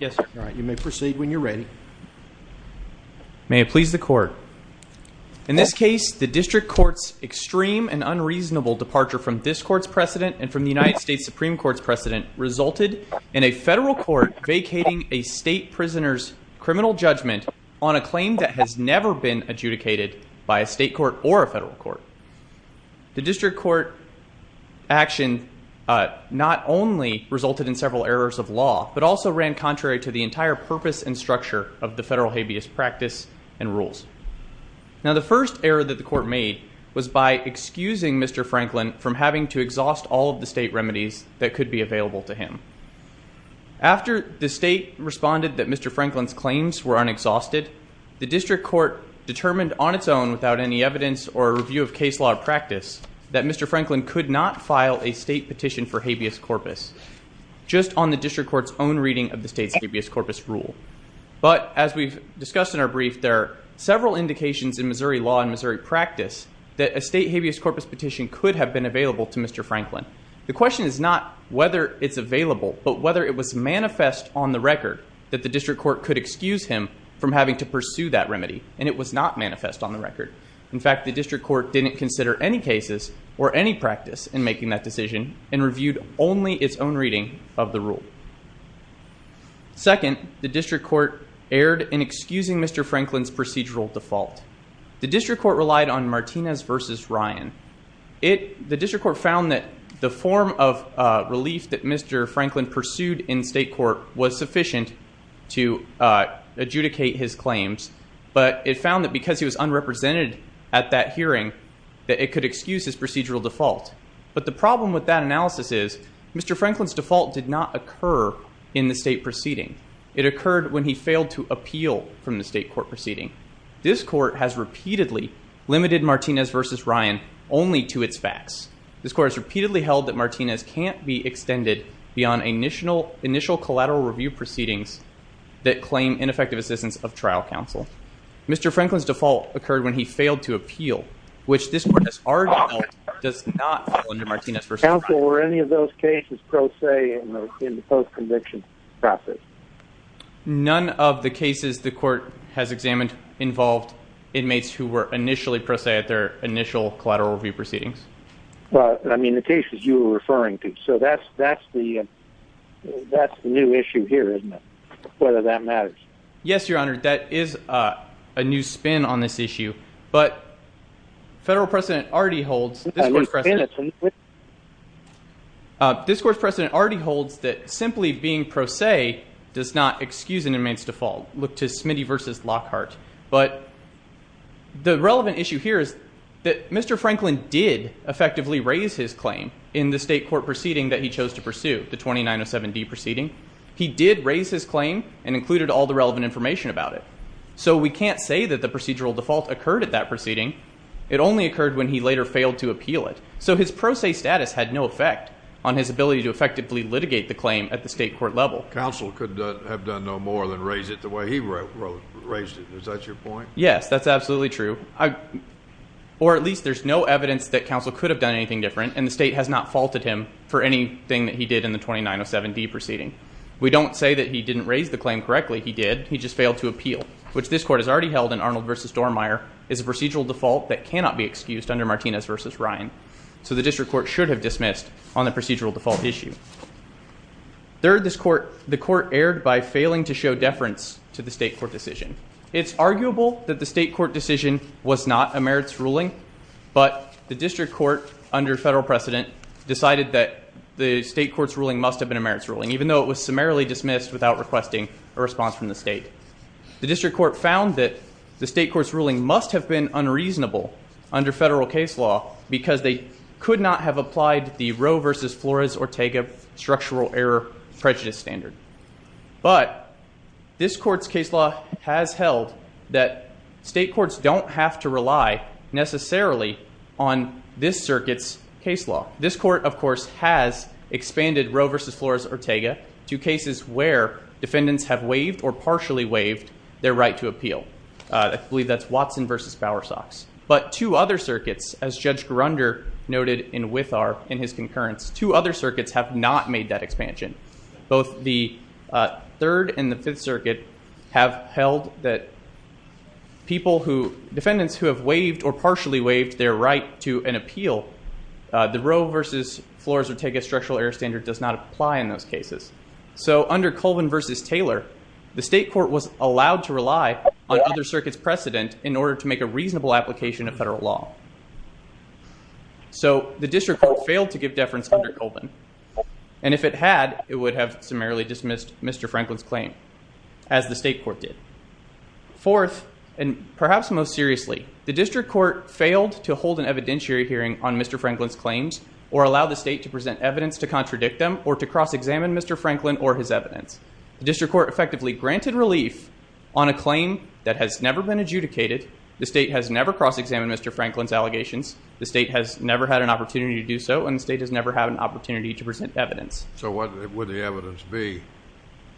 May it please the Court, in this case the District Court's extreme and unreasonable departure from this Court's precedent and from the United States Supreme Court's precedent resulted in a federal court vacating a state prisoner's criminal judgment on a claim that has never been adjudicated by a state court or a federal court. The District Court action not only resulted in several errors of law but also ran contrary to the entire purpose and structure of the federal habeas practice and rules. Now the first error that the Court made was by excusing Mr. Franklin from having to exhaust all of the state remedies that could be available to him. After the state responded that Mr. Franklin's claims were unexhausted, the District Court determined on its own without any evidence or review of case law practice that Mr. Franklin could not file a state petition for habeas corpus just on the District Court's own reading of the state's habeas corpus rule. But as we've discussed in our brief there are several indications in Missouri law and Missouri practice that a state habeas corpus petition could have been available to Mr. Franklin. The question is not whether it's available but whether it was manifest on the record that the District Court could excuse him from having to pursue that remedy and it was not manifest on the record. In fact the District Court didn't consider any cases or any practice in making that decision and reviewed only its own reading of the rule. Second, the District Court erred in excusing Mr. Franklin's procedural default. The District Court relied on Martinez versus Ryan. The District Court found that the form of relief that Mr. Franklin pursued in state court was sufficient to adjudicate his claims but it found that because he was But the problem with that analysis is Mr. Franklin's default did not occur in the state proceeding. It occurred when he failed to appeal from the state court proceeding. This court has repeatedly limited Martinez versus Ryan only to its facts. This court has repeatedly held that Martinez can't be extended beyond initial collateral review proceedings that claim ineffective assistance of trial counsel. Mr. Franklin's default occurred when he does not fall under Martinez versus Ryan. Counsel, were any of those cases pro se in the post-conviction process? None of the cases the court has examined involved inmates who were initially pro se at their initial collateral review proceedings. But I mean the cases you were referring to. So that's that's the that's the new issue here, isn't it? Whether that matters. Yes, your honor. That is a new spin on this court precedent. This court precedent already holds that simply being pro se does not excuse an inmate's default. Look to Smitty versus Lockhart. But the relevant issue here is that Mr. Franklin did effectively raise his claim in the state court proceeding that he chose to pursue. The 2907 D proceeding. He did raise his claim and included all the relevant information about it. So we can't say that the procedural default occurred at that proceeding. It only occurred when he later failed to appeal it. So his pro se status had no effect on his ability to effectively litigate the claim at the state court level. Counsel could have done no more than raise it the way he raised it. Is that your point? Yes, that's absolutely true. Or at least there's no evidence that counsel could have done anything different and the state has not faulted him for anything that he did in the 2907 D proceeding. We don't say that he didn't raise the claim correctly. He did. He just failed to appeal. Which this court has already held in Arnold versus Dormier is a procedural default that used under Martinez versus Ryan. So the district court should have dismissed on the procedural default issue. Third, this court, the court erred by failing to show deference to the state court decision. It's arguable that the state court decision was not a merits ruling, but the district court under federal precedent decided that the state court's ruling must have been a merits ruling, even though it was summarily dismissed without requesting a response from the state. The district court found that the state court's ruling must have been unreasonable under federal case law because they could not have applied the Roe versus Flores Ortega structural error prejudice standard. But this court's case law has held that state courts don't have to rely necessarily on this circuit's case law. This court, of course, has expanded Roe versus Flores Ortega to cases where defendants have waived or partially waived their right to appeal. I believe that's Watson versus Bowersox. But two other circuits, as Judge Grunder noted in Withar in his concurrence, two other circuits have not made that expansion. Both the Third and the Fifth Circuit have held that defendants who have waived or partially waived their right to an appeal, the Roe versus Flores Ortega structural error standard does not apply in those cases. So under Colvin versus Taylor, the state court was allowed to rely on other circuits precedent in order to make a reasonable application of federal law. So the district court failed to give deference under Colvin, and if it had, it would have summarily dismissed Mr. Franklin's claim, as the state court did. Fourth, and perhaps most seriously, the district court failed to hold an evidentiary hearing on Mr. Franklin's claims or allow the state to present evidence to contradict them or to cross-examine Mr. Franklin or his adjudicated, the state has never cross-examined Mr. Franklin's allegations, the state has never had an opportunity to do so, and the state has never had an opportunity to present evidence. So what would the evidence be?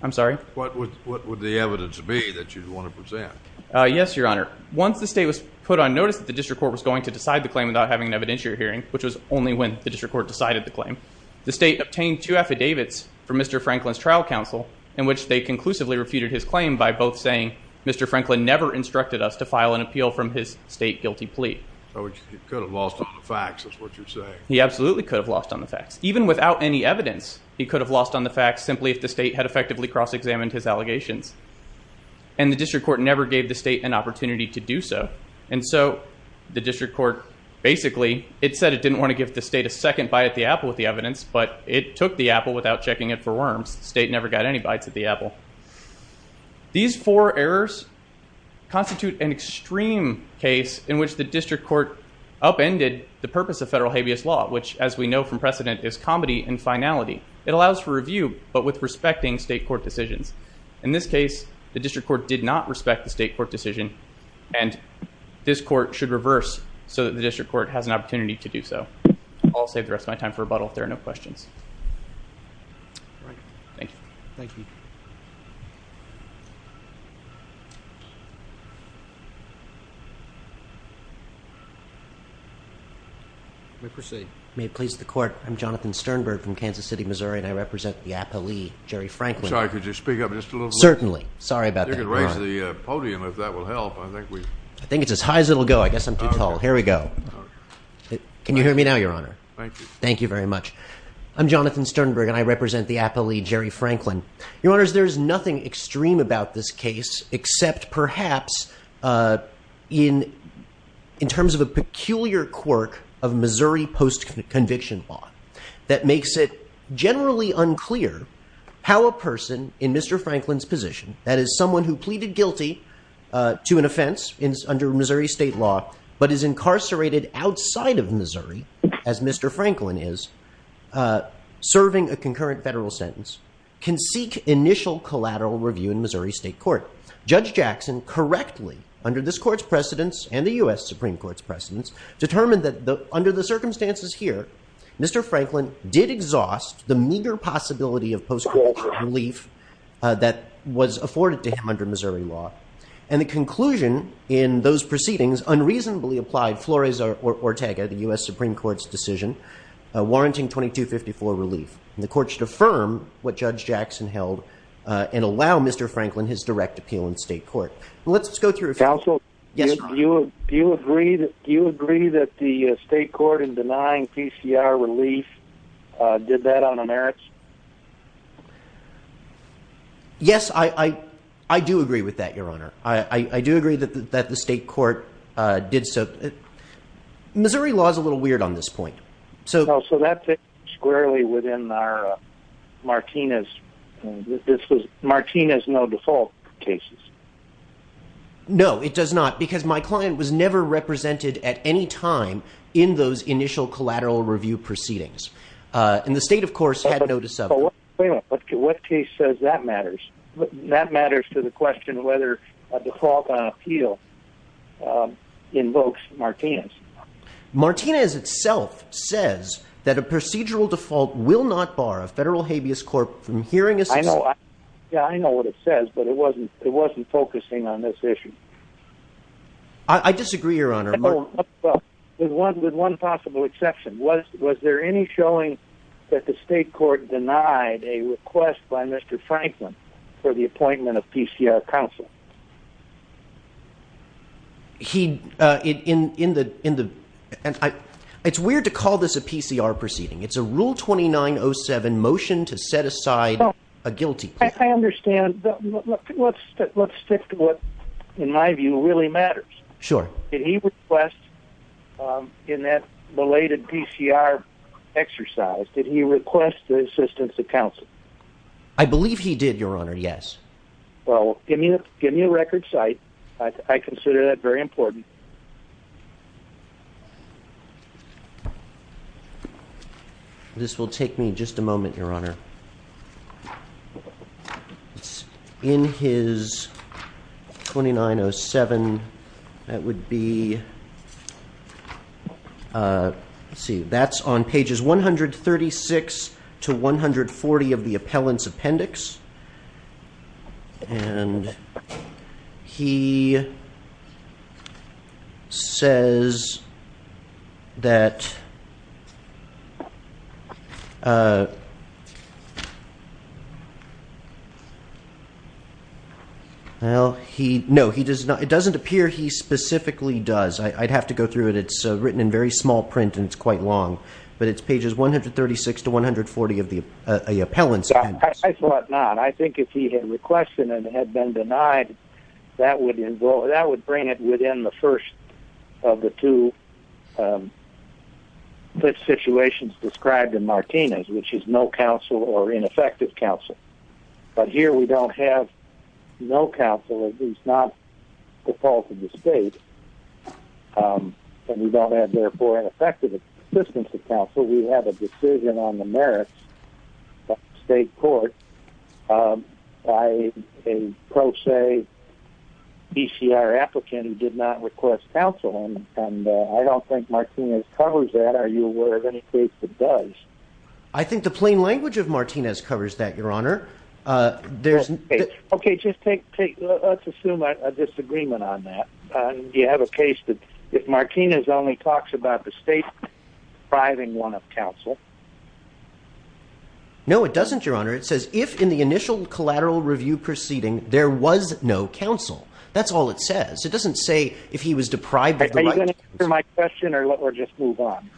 I'm sorry? What would the evidence be that you'd want to present? Yes, Your Honor. Once the state was put on notice that the district court was going to decide the claim without having an evidentiary hearing, which was only when the district court decided the claim, the state obtained two affidavits from Mr. Franklin's trial counsel in which they conclusively refuted his claim by both saying, Mr. Franklin never instructed us to file an appeal from his state guilty plea. He could have lost on the facts, is what you're saying. He absolutely could have lost on the facts. Even without any evidence, he could have lost on the facts simply if the state had effectively cross-examined his allegations, and the district court never gave the state an opportunity to do so, and so the district court basically, it said it didn't want to give the state a second bite at the apple with the evidence, but it took the apple without checking it for worms. The four errors constitute an extreme case in which the district court upended the purpose of federal habeas law, which as we know from precedent is comedy and finality. It allows for review, but with respecting state court decisions. In this case, the district court did not respect the state court decision, and this court should reverse so that the district court has an opportunity to do so. I'll save the rest of my time for rebuttal if there are no questions. Let me proceed. May it please the court, I'm Jonathan Sternberg from Kansas City, Missouri, and I represent the appellee, Jerry Franklin. Sorry, could you speak up just a little? Certainly. Sorry about that. You can raise the podium if that will help. I think it's as high as it'll go. I guess I'm too tall. Here we go. Can you hear me now, Your Honor? Thank you. Thank you very much. I'm Jonathan Sternberg, and I represent the appellee, Jerry Franklin. Your Honor, in this case, except perhaps in terms of a peculiar quirk of Missouri post-conviction law that makes it generally unclear how a person in Mr. Franklin's position, that is someone who pleaded guilty to an offense under Missouri state law, but is incarcerated outside of Missouri, as Mr. Franklin is, serving a concurrent federal sentence, can seek initial collateral review in Missouri state court. Judge Jackson correctly, under this court's precedence and the U.S. Supreme Court's precedence, determined that under the circumstances here, Mr. Franklin did exhaust the meager possibility of post-conviction relief that was afforded to him under Missouri law, and the conclusion in those proceedings unreasonably applied Flores-Ortega, the U.S. Supreme Court's decision, warranting 2254 relief. And the court should affirm what Judge Jackson held and allow Mr. Franklin his direct appeal in state court. Counsel, do you agree that the state court in denying PCR relief did that on a merits? Yes, I do agree with that, Your Honor. I do agree that the state court did so. Missouri law is a little weird on this point. So that fits squarely within our Martinez. This was Martinez, no default cases. No, it does not, because my client was never represented at any time in those initial collateral review proceedings. And the state, of course, had no dissent. But what case says that matters? That matters to the question of whether a default on appeal invokes Martinez. Martinez itself says that a procedural default will not bar a federal habeas court from hearing a... I know. Yeah, I know what it says, but it wasn't it wasn't focusing on this issue. I disagree, Your Honor, with one with one possible exception. Was there any showing that the state court denied a request by Mr. Franklin for the appointment of PCR counsel? It's weird to call this a PCR proceeding. It's a Rule 2907 motion to set aside a guilty. I understand. Let's stick to what, in my view, really matters. Sure. Did he request in that belated PCR exercise, did he request the assistance of counsel? I believe he did, Your Honor. Yes. Well, give me a record cite. I consider that very important. This will take me just a moment, Your Honor. It's in his 2907. That would be... Let's see. That's on pages 136 to 140 of the appellant's appendix. And he says that... Well, he... No, he does not... It doesn't appear he specifically does. I'd have to go through it. It's written in very small print, and it's quite long. But it's pages 136 to 140 of the appellant's appendix. I thought not. I think if he had requested and had been denied, that would bring it within the first of the two situations described in Martinez, which is no counsel or ineffective counsel. But here we don't have no counsel, at least not the fault of the state. And we don't have, therefore, an effective assistance of counsel. We have a decision on the merits of the state court by a pro se PCR applicant who did not request counsel. And I don't think Martinez covers that. Are you aware of any case that does? I think the plain language of Martinez covers that, Your Honor. There's... Okay, just take... Let's assume a disagreement on that. Do you have a case that if Martinez only talks about the state depriving one of counsel? No, it doesn't, Your Honor. It says if in the initial collateral review proceeding, there was no counsel. That's all it says. It doesn't say if he was deprived... Are you going to answer my question or just move on?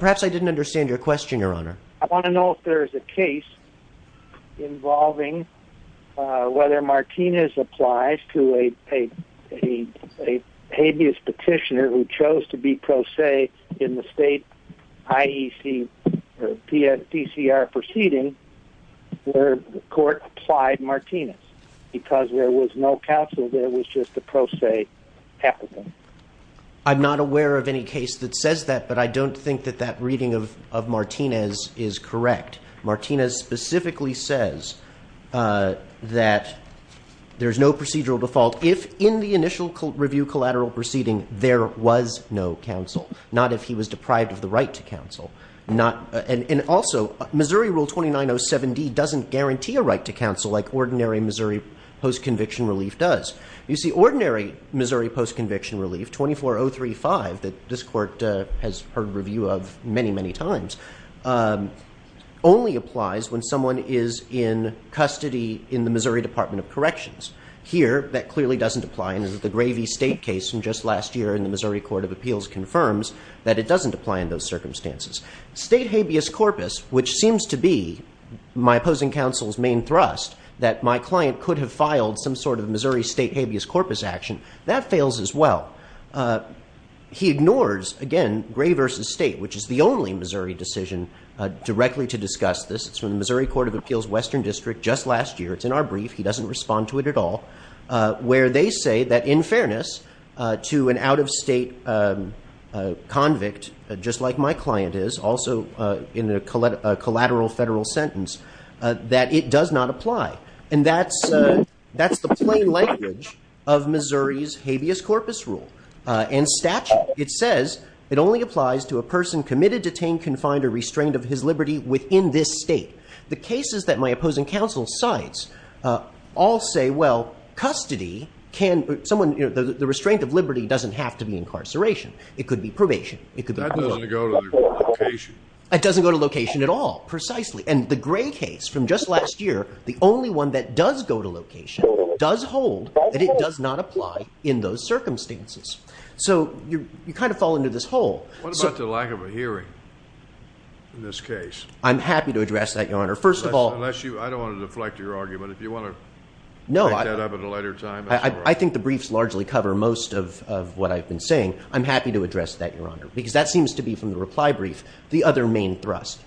Perhaps I didn't understand your question, Your Honor. I want to know if there's a case involving whether Martinez applies to a habeas petitioner who chose to be pro se in the state IEC or PCR proceeding where the court applied Martinez. Because there was no counsel, there was just a pro se applicant. I'm not aware of any case that says that, but I don't think that that reading of Martinez is correct. Martinez specifically says that there's no procedural default if in the initial review collateral proceeding, there was no counsel, not if he was deprived of the right to counsel. And also, Missouri Rule 2907D doesn't guarantee a right to counsel like ordinary Missouri post-conviction relief, 24035, that this court has heard review of many, many times, only applies when someone is in custody in the Missouri Department of Corrections. Here, that clearly doesn't apply. And the Gravey State case from just last year in the Missouri Court of Appeals confirms that it doesn't apply in those circumstances. State habeas corpus, which seems to be my opposing counsel's main thrust, that my client could have filed some Missouri State habeas corpus action, that fails as well. He ignores, again, Gray v. State, which is the only Missouri decision directly to discuss this. It's from the Missouri Court of Appeals Western District just last year. It's in our brief. He doesn't respond to it at all. Where they say that in fairness to an out-of-state convict, just like my client is, also in a collateral federal sentence, that it does not apply. And that's the plain language of Missouri's habeas corpus rule and statute. It says it only applies to a person committed detained, confined, or restrained of his liberty within this state. The cases that my opposing counsel cites all say, well, custody, the restraint of liberty doesn't have to be incarceration. It could be probation. It doesn't go to location at all, precisely. And the Gray case from just last year, the only one that does go to location, does hold that it does not apply in those circumstances. So you kind of fall into this hole. What about the lack of a hearing in this case? I'm happy to address that, Your Honor. First of all, I don't want to deflect your argument. If you want to make that up at a later time, that's all right. I think the briefs largely cover most of what I've been saying. I'm happy to address that, Your Honor, because that seems to be, from the reply brief, the other main thrust.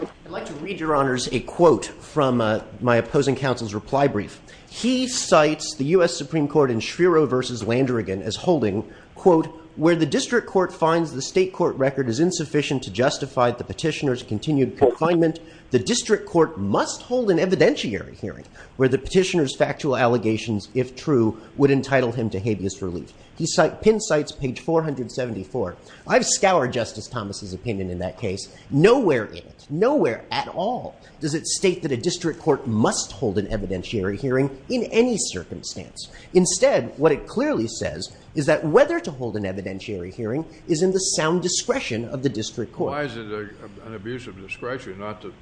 I'd like to read, Your Honors, a quote from my opposing counsel's reply brief. He cites the US Supreme Court in Schreiro versus Landrigan as holding, quote, where the district court finds the state court record is insufficient to justify the petitioner's continued confinement, the district court must hold an evidentiary hearing where the petitioner's factual allegations, if true, would entitle him to habeas relief. He pin cites page 474. I've scoured Justice Thomas's opinion in that case. Nowhere in it, nowhere at all does it state that a district court must hold an evidentiary hearing in any circumstance. Instead, what it clearly says is that whether to hold an evidentiary hearing is in the sound discretion of the district court. Why is it an abuse of discretion not to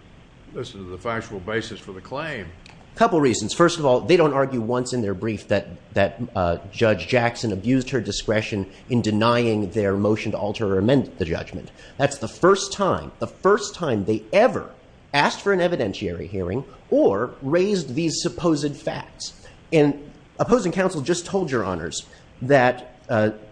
the factual basis for the claim? A couple reasons. First of all, they don't argue once in their brief that Judge Jackson abused her discretion in denying their motion to alter or amend the judgment. That's the first time, the first time they ever asked for an evidentiary hearing or raised these supposed facts. And opposing counsel just told, Your Honors, that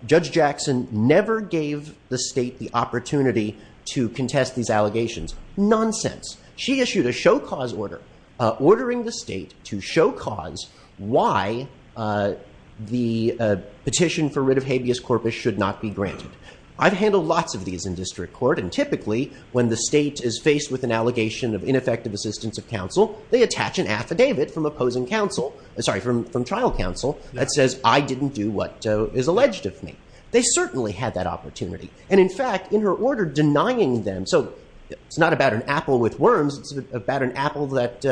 Judge Jackson never gave the state the opportunity to contest these allegations. Nonsense. She issued a show-cause order, ordering the state to show cause why the petition for writ of habeas corpus should not be granted. I've handled lots of these in district court. And typically, when the state is faced with an allegation of ineffective assistance of counsel, they attach an affidavit from opposing counsel, sorry, from trial counsel that says, I didn't do what is alleged of me. They certainly had that opportunity. And in fact, in her order denying them, so it's not about an apple with worms. It's about an apple that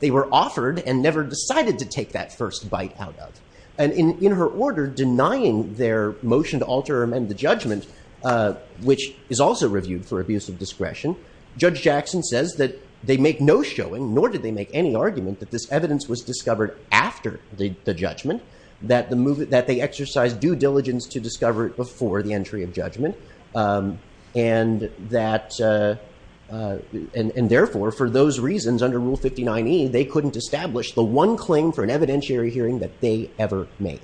they were offered and never decided to take that first bite out of. And in her order denying their motion to alter or amend the judgment, which is also reviewed for abuse of discretion, Judge Jackson says that they make no showing, nor did they make any argument, that this evidence was discovered after the judgment, that they exercised due diligence to discover it before the entry of judgment. And therefore, for those reasons under Rule 59E, they couldn't establish the one claim for an evidentiary hearing that they ever made.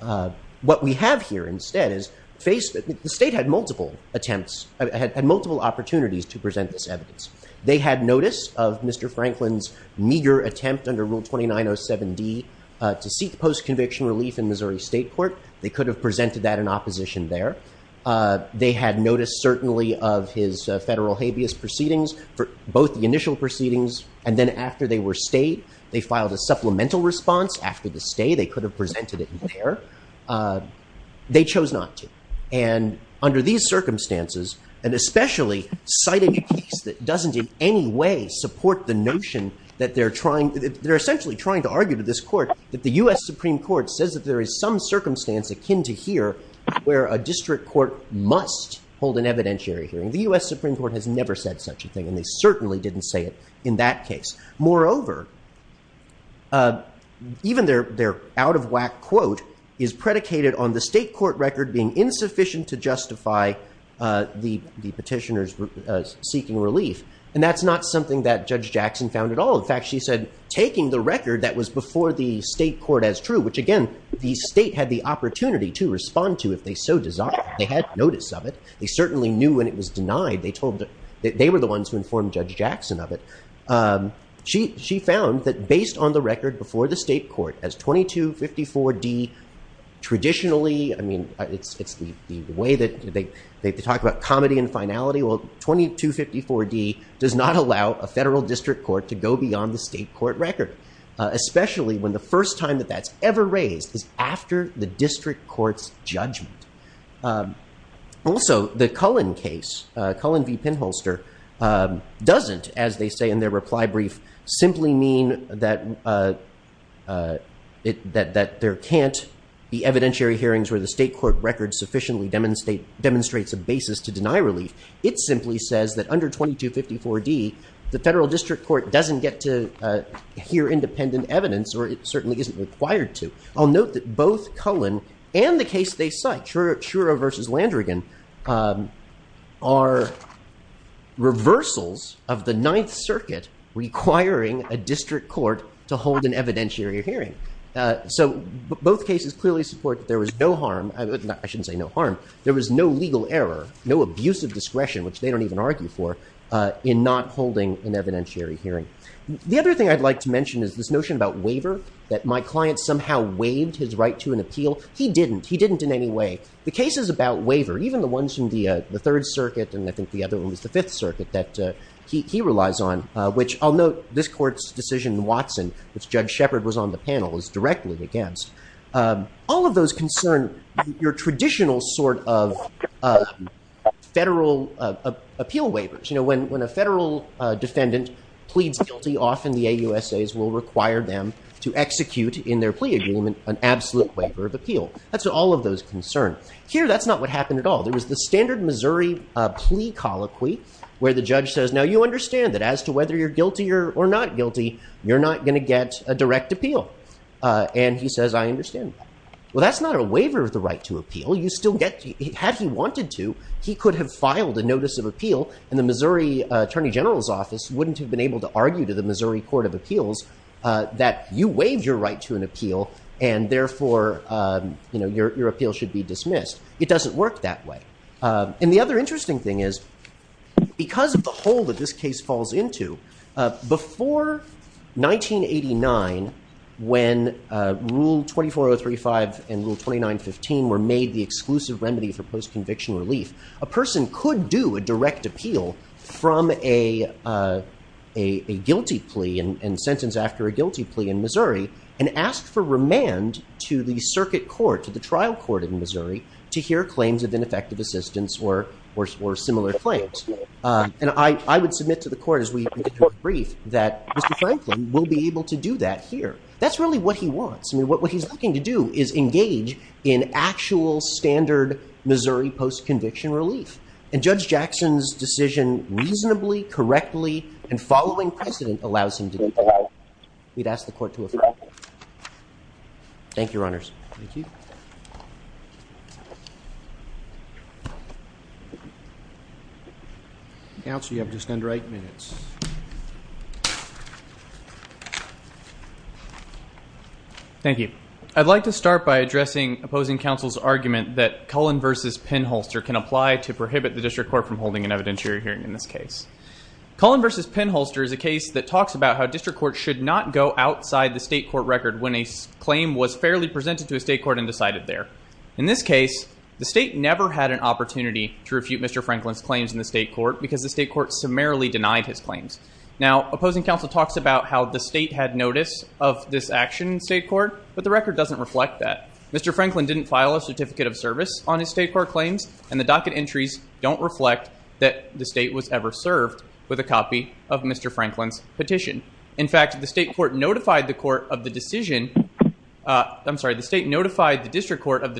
What we have here instead is the state had multiple attempts, had multiple opportunities to present this evidence. They had notice of Mr. Franklin's meager attempt under Rule 2907D to seek post-conviction relief in Missouri State Court. They could have presented that in opposition there. They had notice certainly of his federal habeas proceedings for both the initial proceedings and then after they were state, they filed a supplemental response after the state. They could have presented it in there. They chose not to. And under these circumstances, and especially citing a case that doesn't in any way support the notion that they're trying, they're essentially trying to argue to this court that the U.S. Supreme Court says that there is some circumstance akin to here where a district court must hold an evidentiary hearing. The U.S. Supreme Court has never said such a thing, and they certainly didn't say it in that case. Moreover, even their out-of-whack quote is predicated on the state court record being insufficient to justify the petitioners seeking relief. And that's not something that Judge Jackson found at all. In fact, she said taking the record that was before the state court as true, which again, the state had the opportunity to respond to if they so desired. They had notice of it. They certainly knew when it was denied. They were the ones who informed Judge Jackson of it. She found that based on the record before the state court, as 2254D traditionally, I mean, it's the way that they talk about comedy and finality. Well, 2254D does not allow a federal district court to go beyond the state court record, especially when the first time that that's ever raised is after the district court's judgment. Also, the Cullen case, Cullen v. Pinholster, doesn't, as they say in their reply brief, simply mean that there can't be evidentiary hearings where the state court record sufficiently demonstrates a basis to deny relief. It simply says that under 2254D, the federal district court doesn't get to hear independent evidence, or it certainly isn't required to. I'll note that both Cullen and the case they cite, Shura v. Landrigan, are reversals of the Ninth Circuit requiring a district court to hold an evidentiary hearing. So both cases clearly support that there was no harm. I shouldn't say no harm. There was no legal error, no abuse of discretion, which they don't even argue for, in not holding an evidentiary hearing. The other thing I'd like to mention is this notion about waiver, that my client somehow waived his right to an appeal. He didn't. He didn't in any way. The cases about waiver, even the ones from the Third Circuit, and I think the other one was the Fifth Circuit, that he relies on, which I'll note this court's decision in Watson, which Judge Shepard was on the panel, is directly against. All of those concern your traditional sort of federal appeal waivers. When a federal defendant pleads guilty, often the AUSAs will require them to execute, in their plea agreement, an absolute waiver of appeal. That's all of those concern. Here, that's not what happened at all. There was the standard Missouri plea colloquy, where the judge says, now you understand that as to whether you're guilty or not guilty, you're not going to get a direct appeal. And he says, I understand that. Well, that's not a waiver of the right to appeal. You still get, had he wanted to, he could have filed a notice of appeal, and the Missouri Attorney General's Office wouldn't have been able to argue to the Missouri Court of Appeals that you waived your right to an appeal, and therefore, your appeal should be dismissed. It doesn't work that way. And the other interesting thing is, because of the hole that this case falls into, before 1989, when Rule 24035 and Rule 2915 were made the exclusive remedy for post-conviction relief, a person could do a direct appeal from a guilty plea and sentence after a guilty plea in Missouri, and ask for remand to the circuit court, to the I would submit to the court, as we get to the brief, that Mr. Franklin will be able to do that here. That's really what he wants. I mean, what he's looking to do is engage in actual, standard Missouri post-conviction relief. And Judge Jackson's decision, reasonably, correctly, and following precedent, allows him to do that. We'd ask the court to affirm that. Thank you, Thank you. Counsel, you have just under eight minutes. Thank you. I'd like to start by addressing opposing counsel's argument that Cullen v. Penholster can apply to prohibit the district court from holding an evidentiary hearing in this case. Cullen v. Penholster is a case that talks about how district courts should not go outside the state court record when a claim was fairly presented to a state court and decided there. In this case, the state never had an opportunity to refute Mr. Franklin's claims in the state court, because the state court summarily denied his claims. Now, opposing counsel talks about how the state had notice of this action in state court, but the record doesn't reflect that. Mr. Franklin didn't file a certificate of service on his state court claims, and the docket entries don't reflect that the state was ever served with a copy of Mr. Franklin's The state notified the district court of the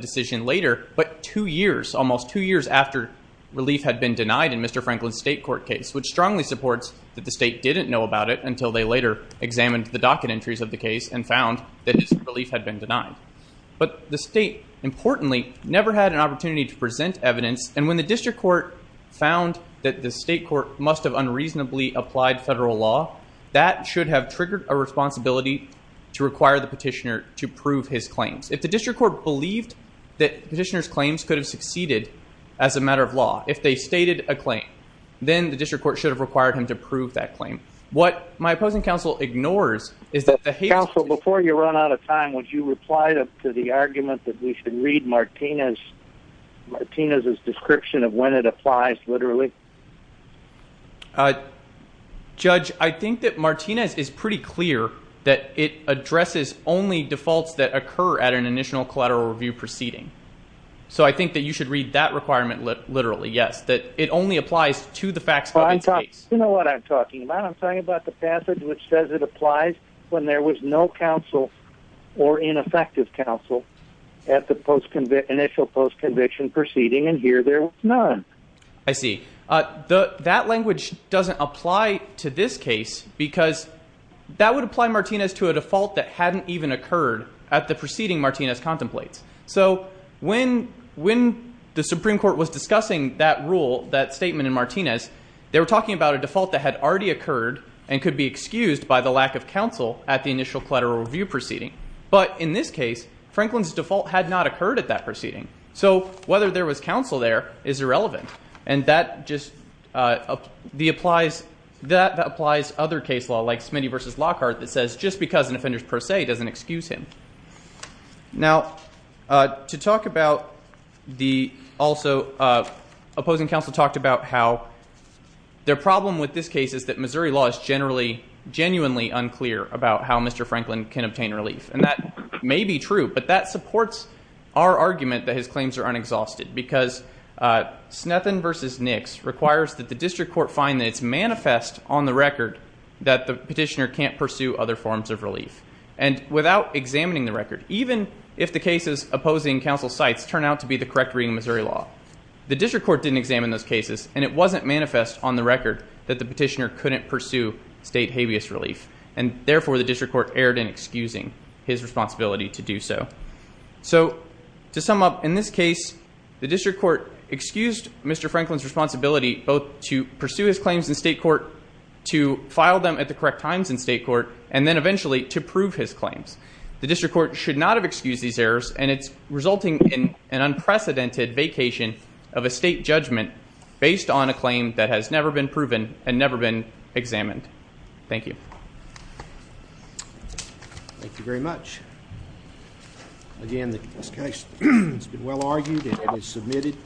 decision later, but two years, almost two years after relief had been denied in Mr. Franklin's state court case, which strongly supports that the state didn't know about it until they later examined the docket entries of the case and found that his relief had been denied. But the state, importantly, never had an opportunity to present evidence, and when the district court found that the state court must have unreasonably applied federal law, that should have triggered a responsibility to require the petitioner to prove his claims. If the district court believed that petitioner's claims could have succeeded as a matter of law, if they stated a claim, then the district court should have required him to prove that claim. What my opposing counsel ignores is that the hate... Counsel, before you run out of time, would you reply to the argument that we should read Martinez's description of when it literally? Judge, I think that Martinez is pretty clear that it addresses only defaults that occur at an initial collateral review proceeding. So I think that you should read that requirement literally. Yes, that it only applies to the facts. You know what I'm talking about? I'm talking about the passage which says it applies when there was no counsel or ineffective counsel at the initial post-conviction proceeding, and here there was none. I see. That language doesn't apply to this case because that would apply Martinez to a default that hadn't even occurred at the preceding Martinez contemplates. So when the Supreme Court was discussing that rule, that statement in Martinez, they were talking about a default that had already occurred and could be excused by the lack of counsel at the initial collateral review proceeding. But in this case, Franklin's default had not occurred at that proceeding. So whether there was counsel there is irrelevant, and that just... That applies other case law like Smitty v. Lockhart that says just because an offender is per se doesn't excuse him. Now, to talk about the... Also, opposing counsel talked about how their problem with this case is that Missouri law is genuinely unclear about how Mr. Franklin can obtain relief, and that may be true, but that supports our argument that his claims are unexhausted because Snethen v. Nix requires that the district court find that it's manifest on the record that the petitioner can't pursue other forms of relief. And without examining the record, even if the cases opposing counsel's sites turn out to be the correct reading Missouri law, the district court didn't examine those cases, and it wasn't manifest on the record that the petitioner couldn't pursue state habeas relief. And therefore, the district court erred in excusing his responsibility to do so. So to sum up, in this case the district court excused Mr. Franklin's responsibility both to pursue his claims in state court, to file them at the correct times in state court, and then eventually to prove his claims. The district court should not have excused these errors, and it's resulting in an unprecedented vacation of a state judgment based on a claim that has never been proven and never been examined. Thank you. Thank you very much. Again, this case has been well argued and it is submitted.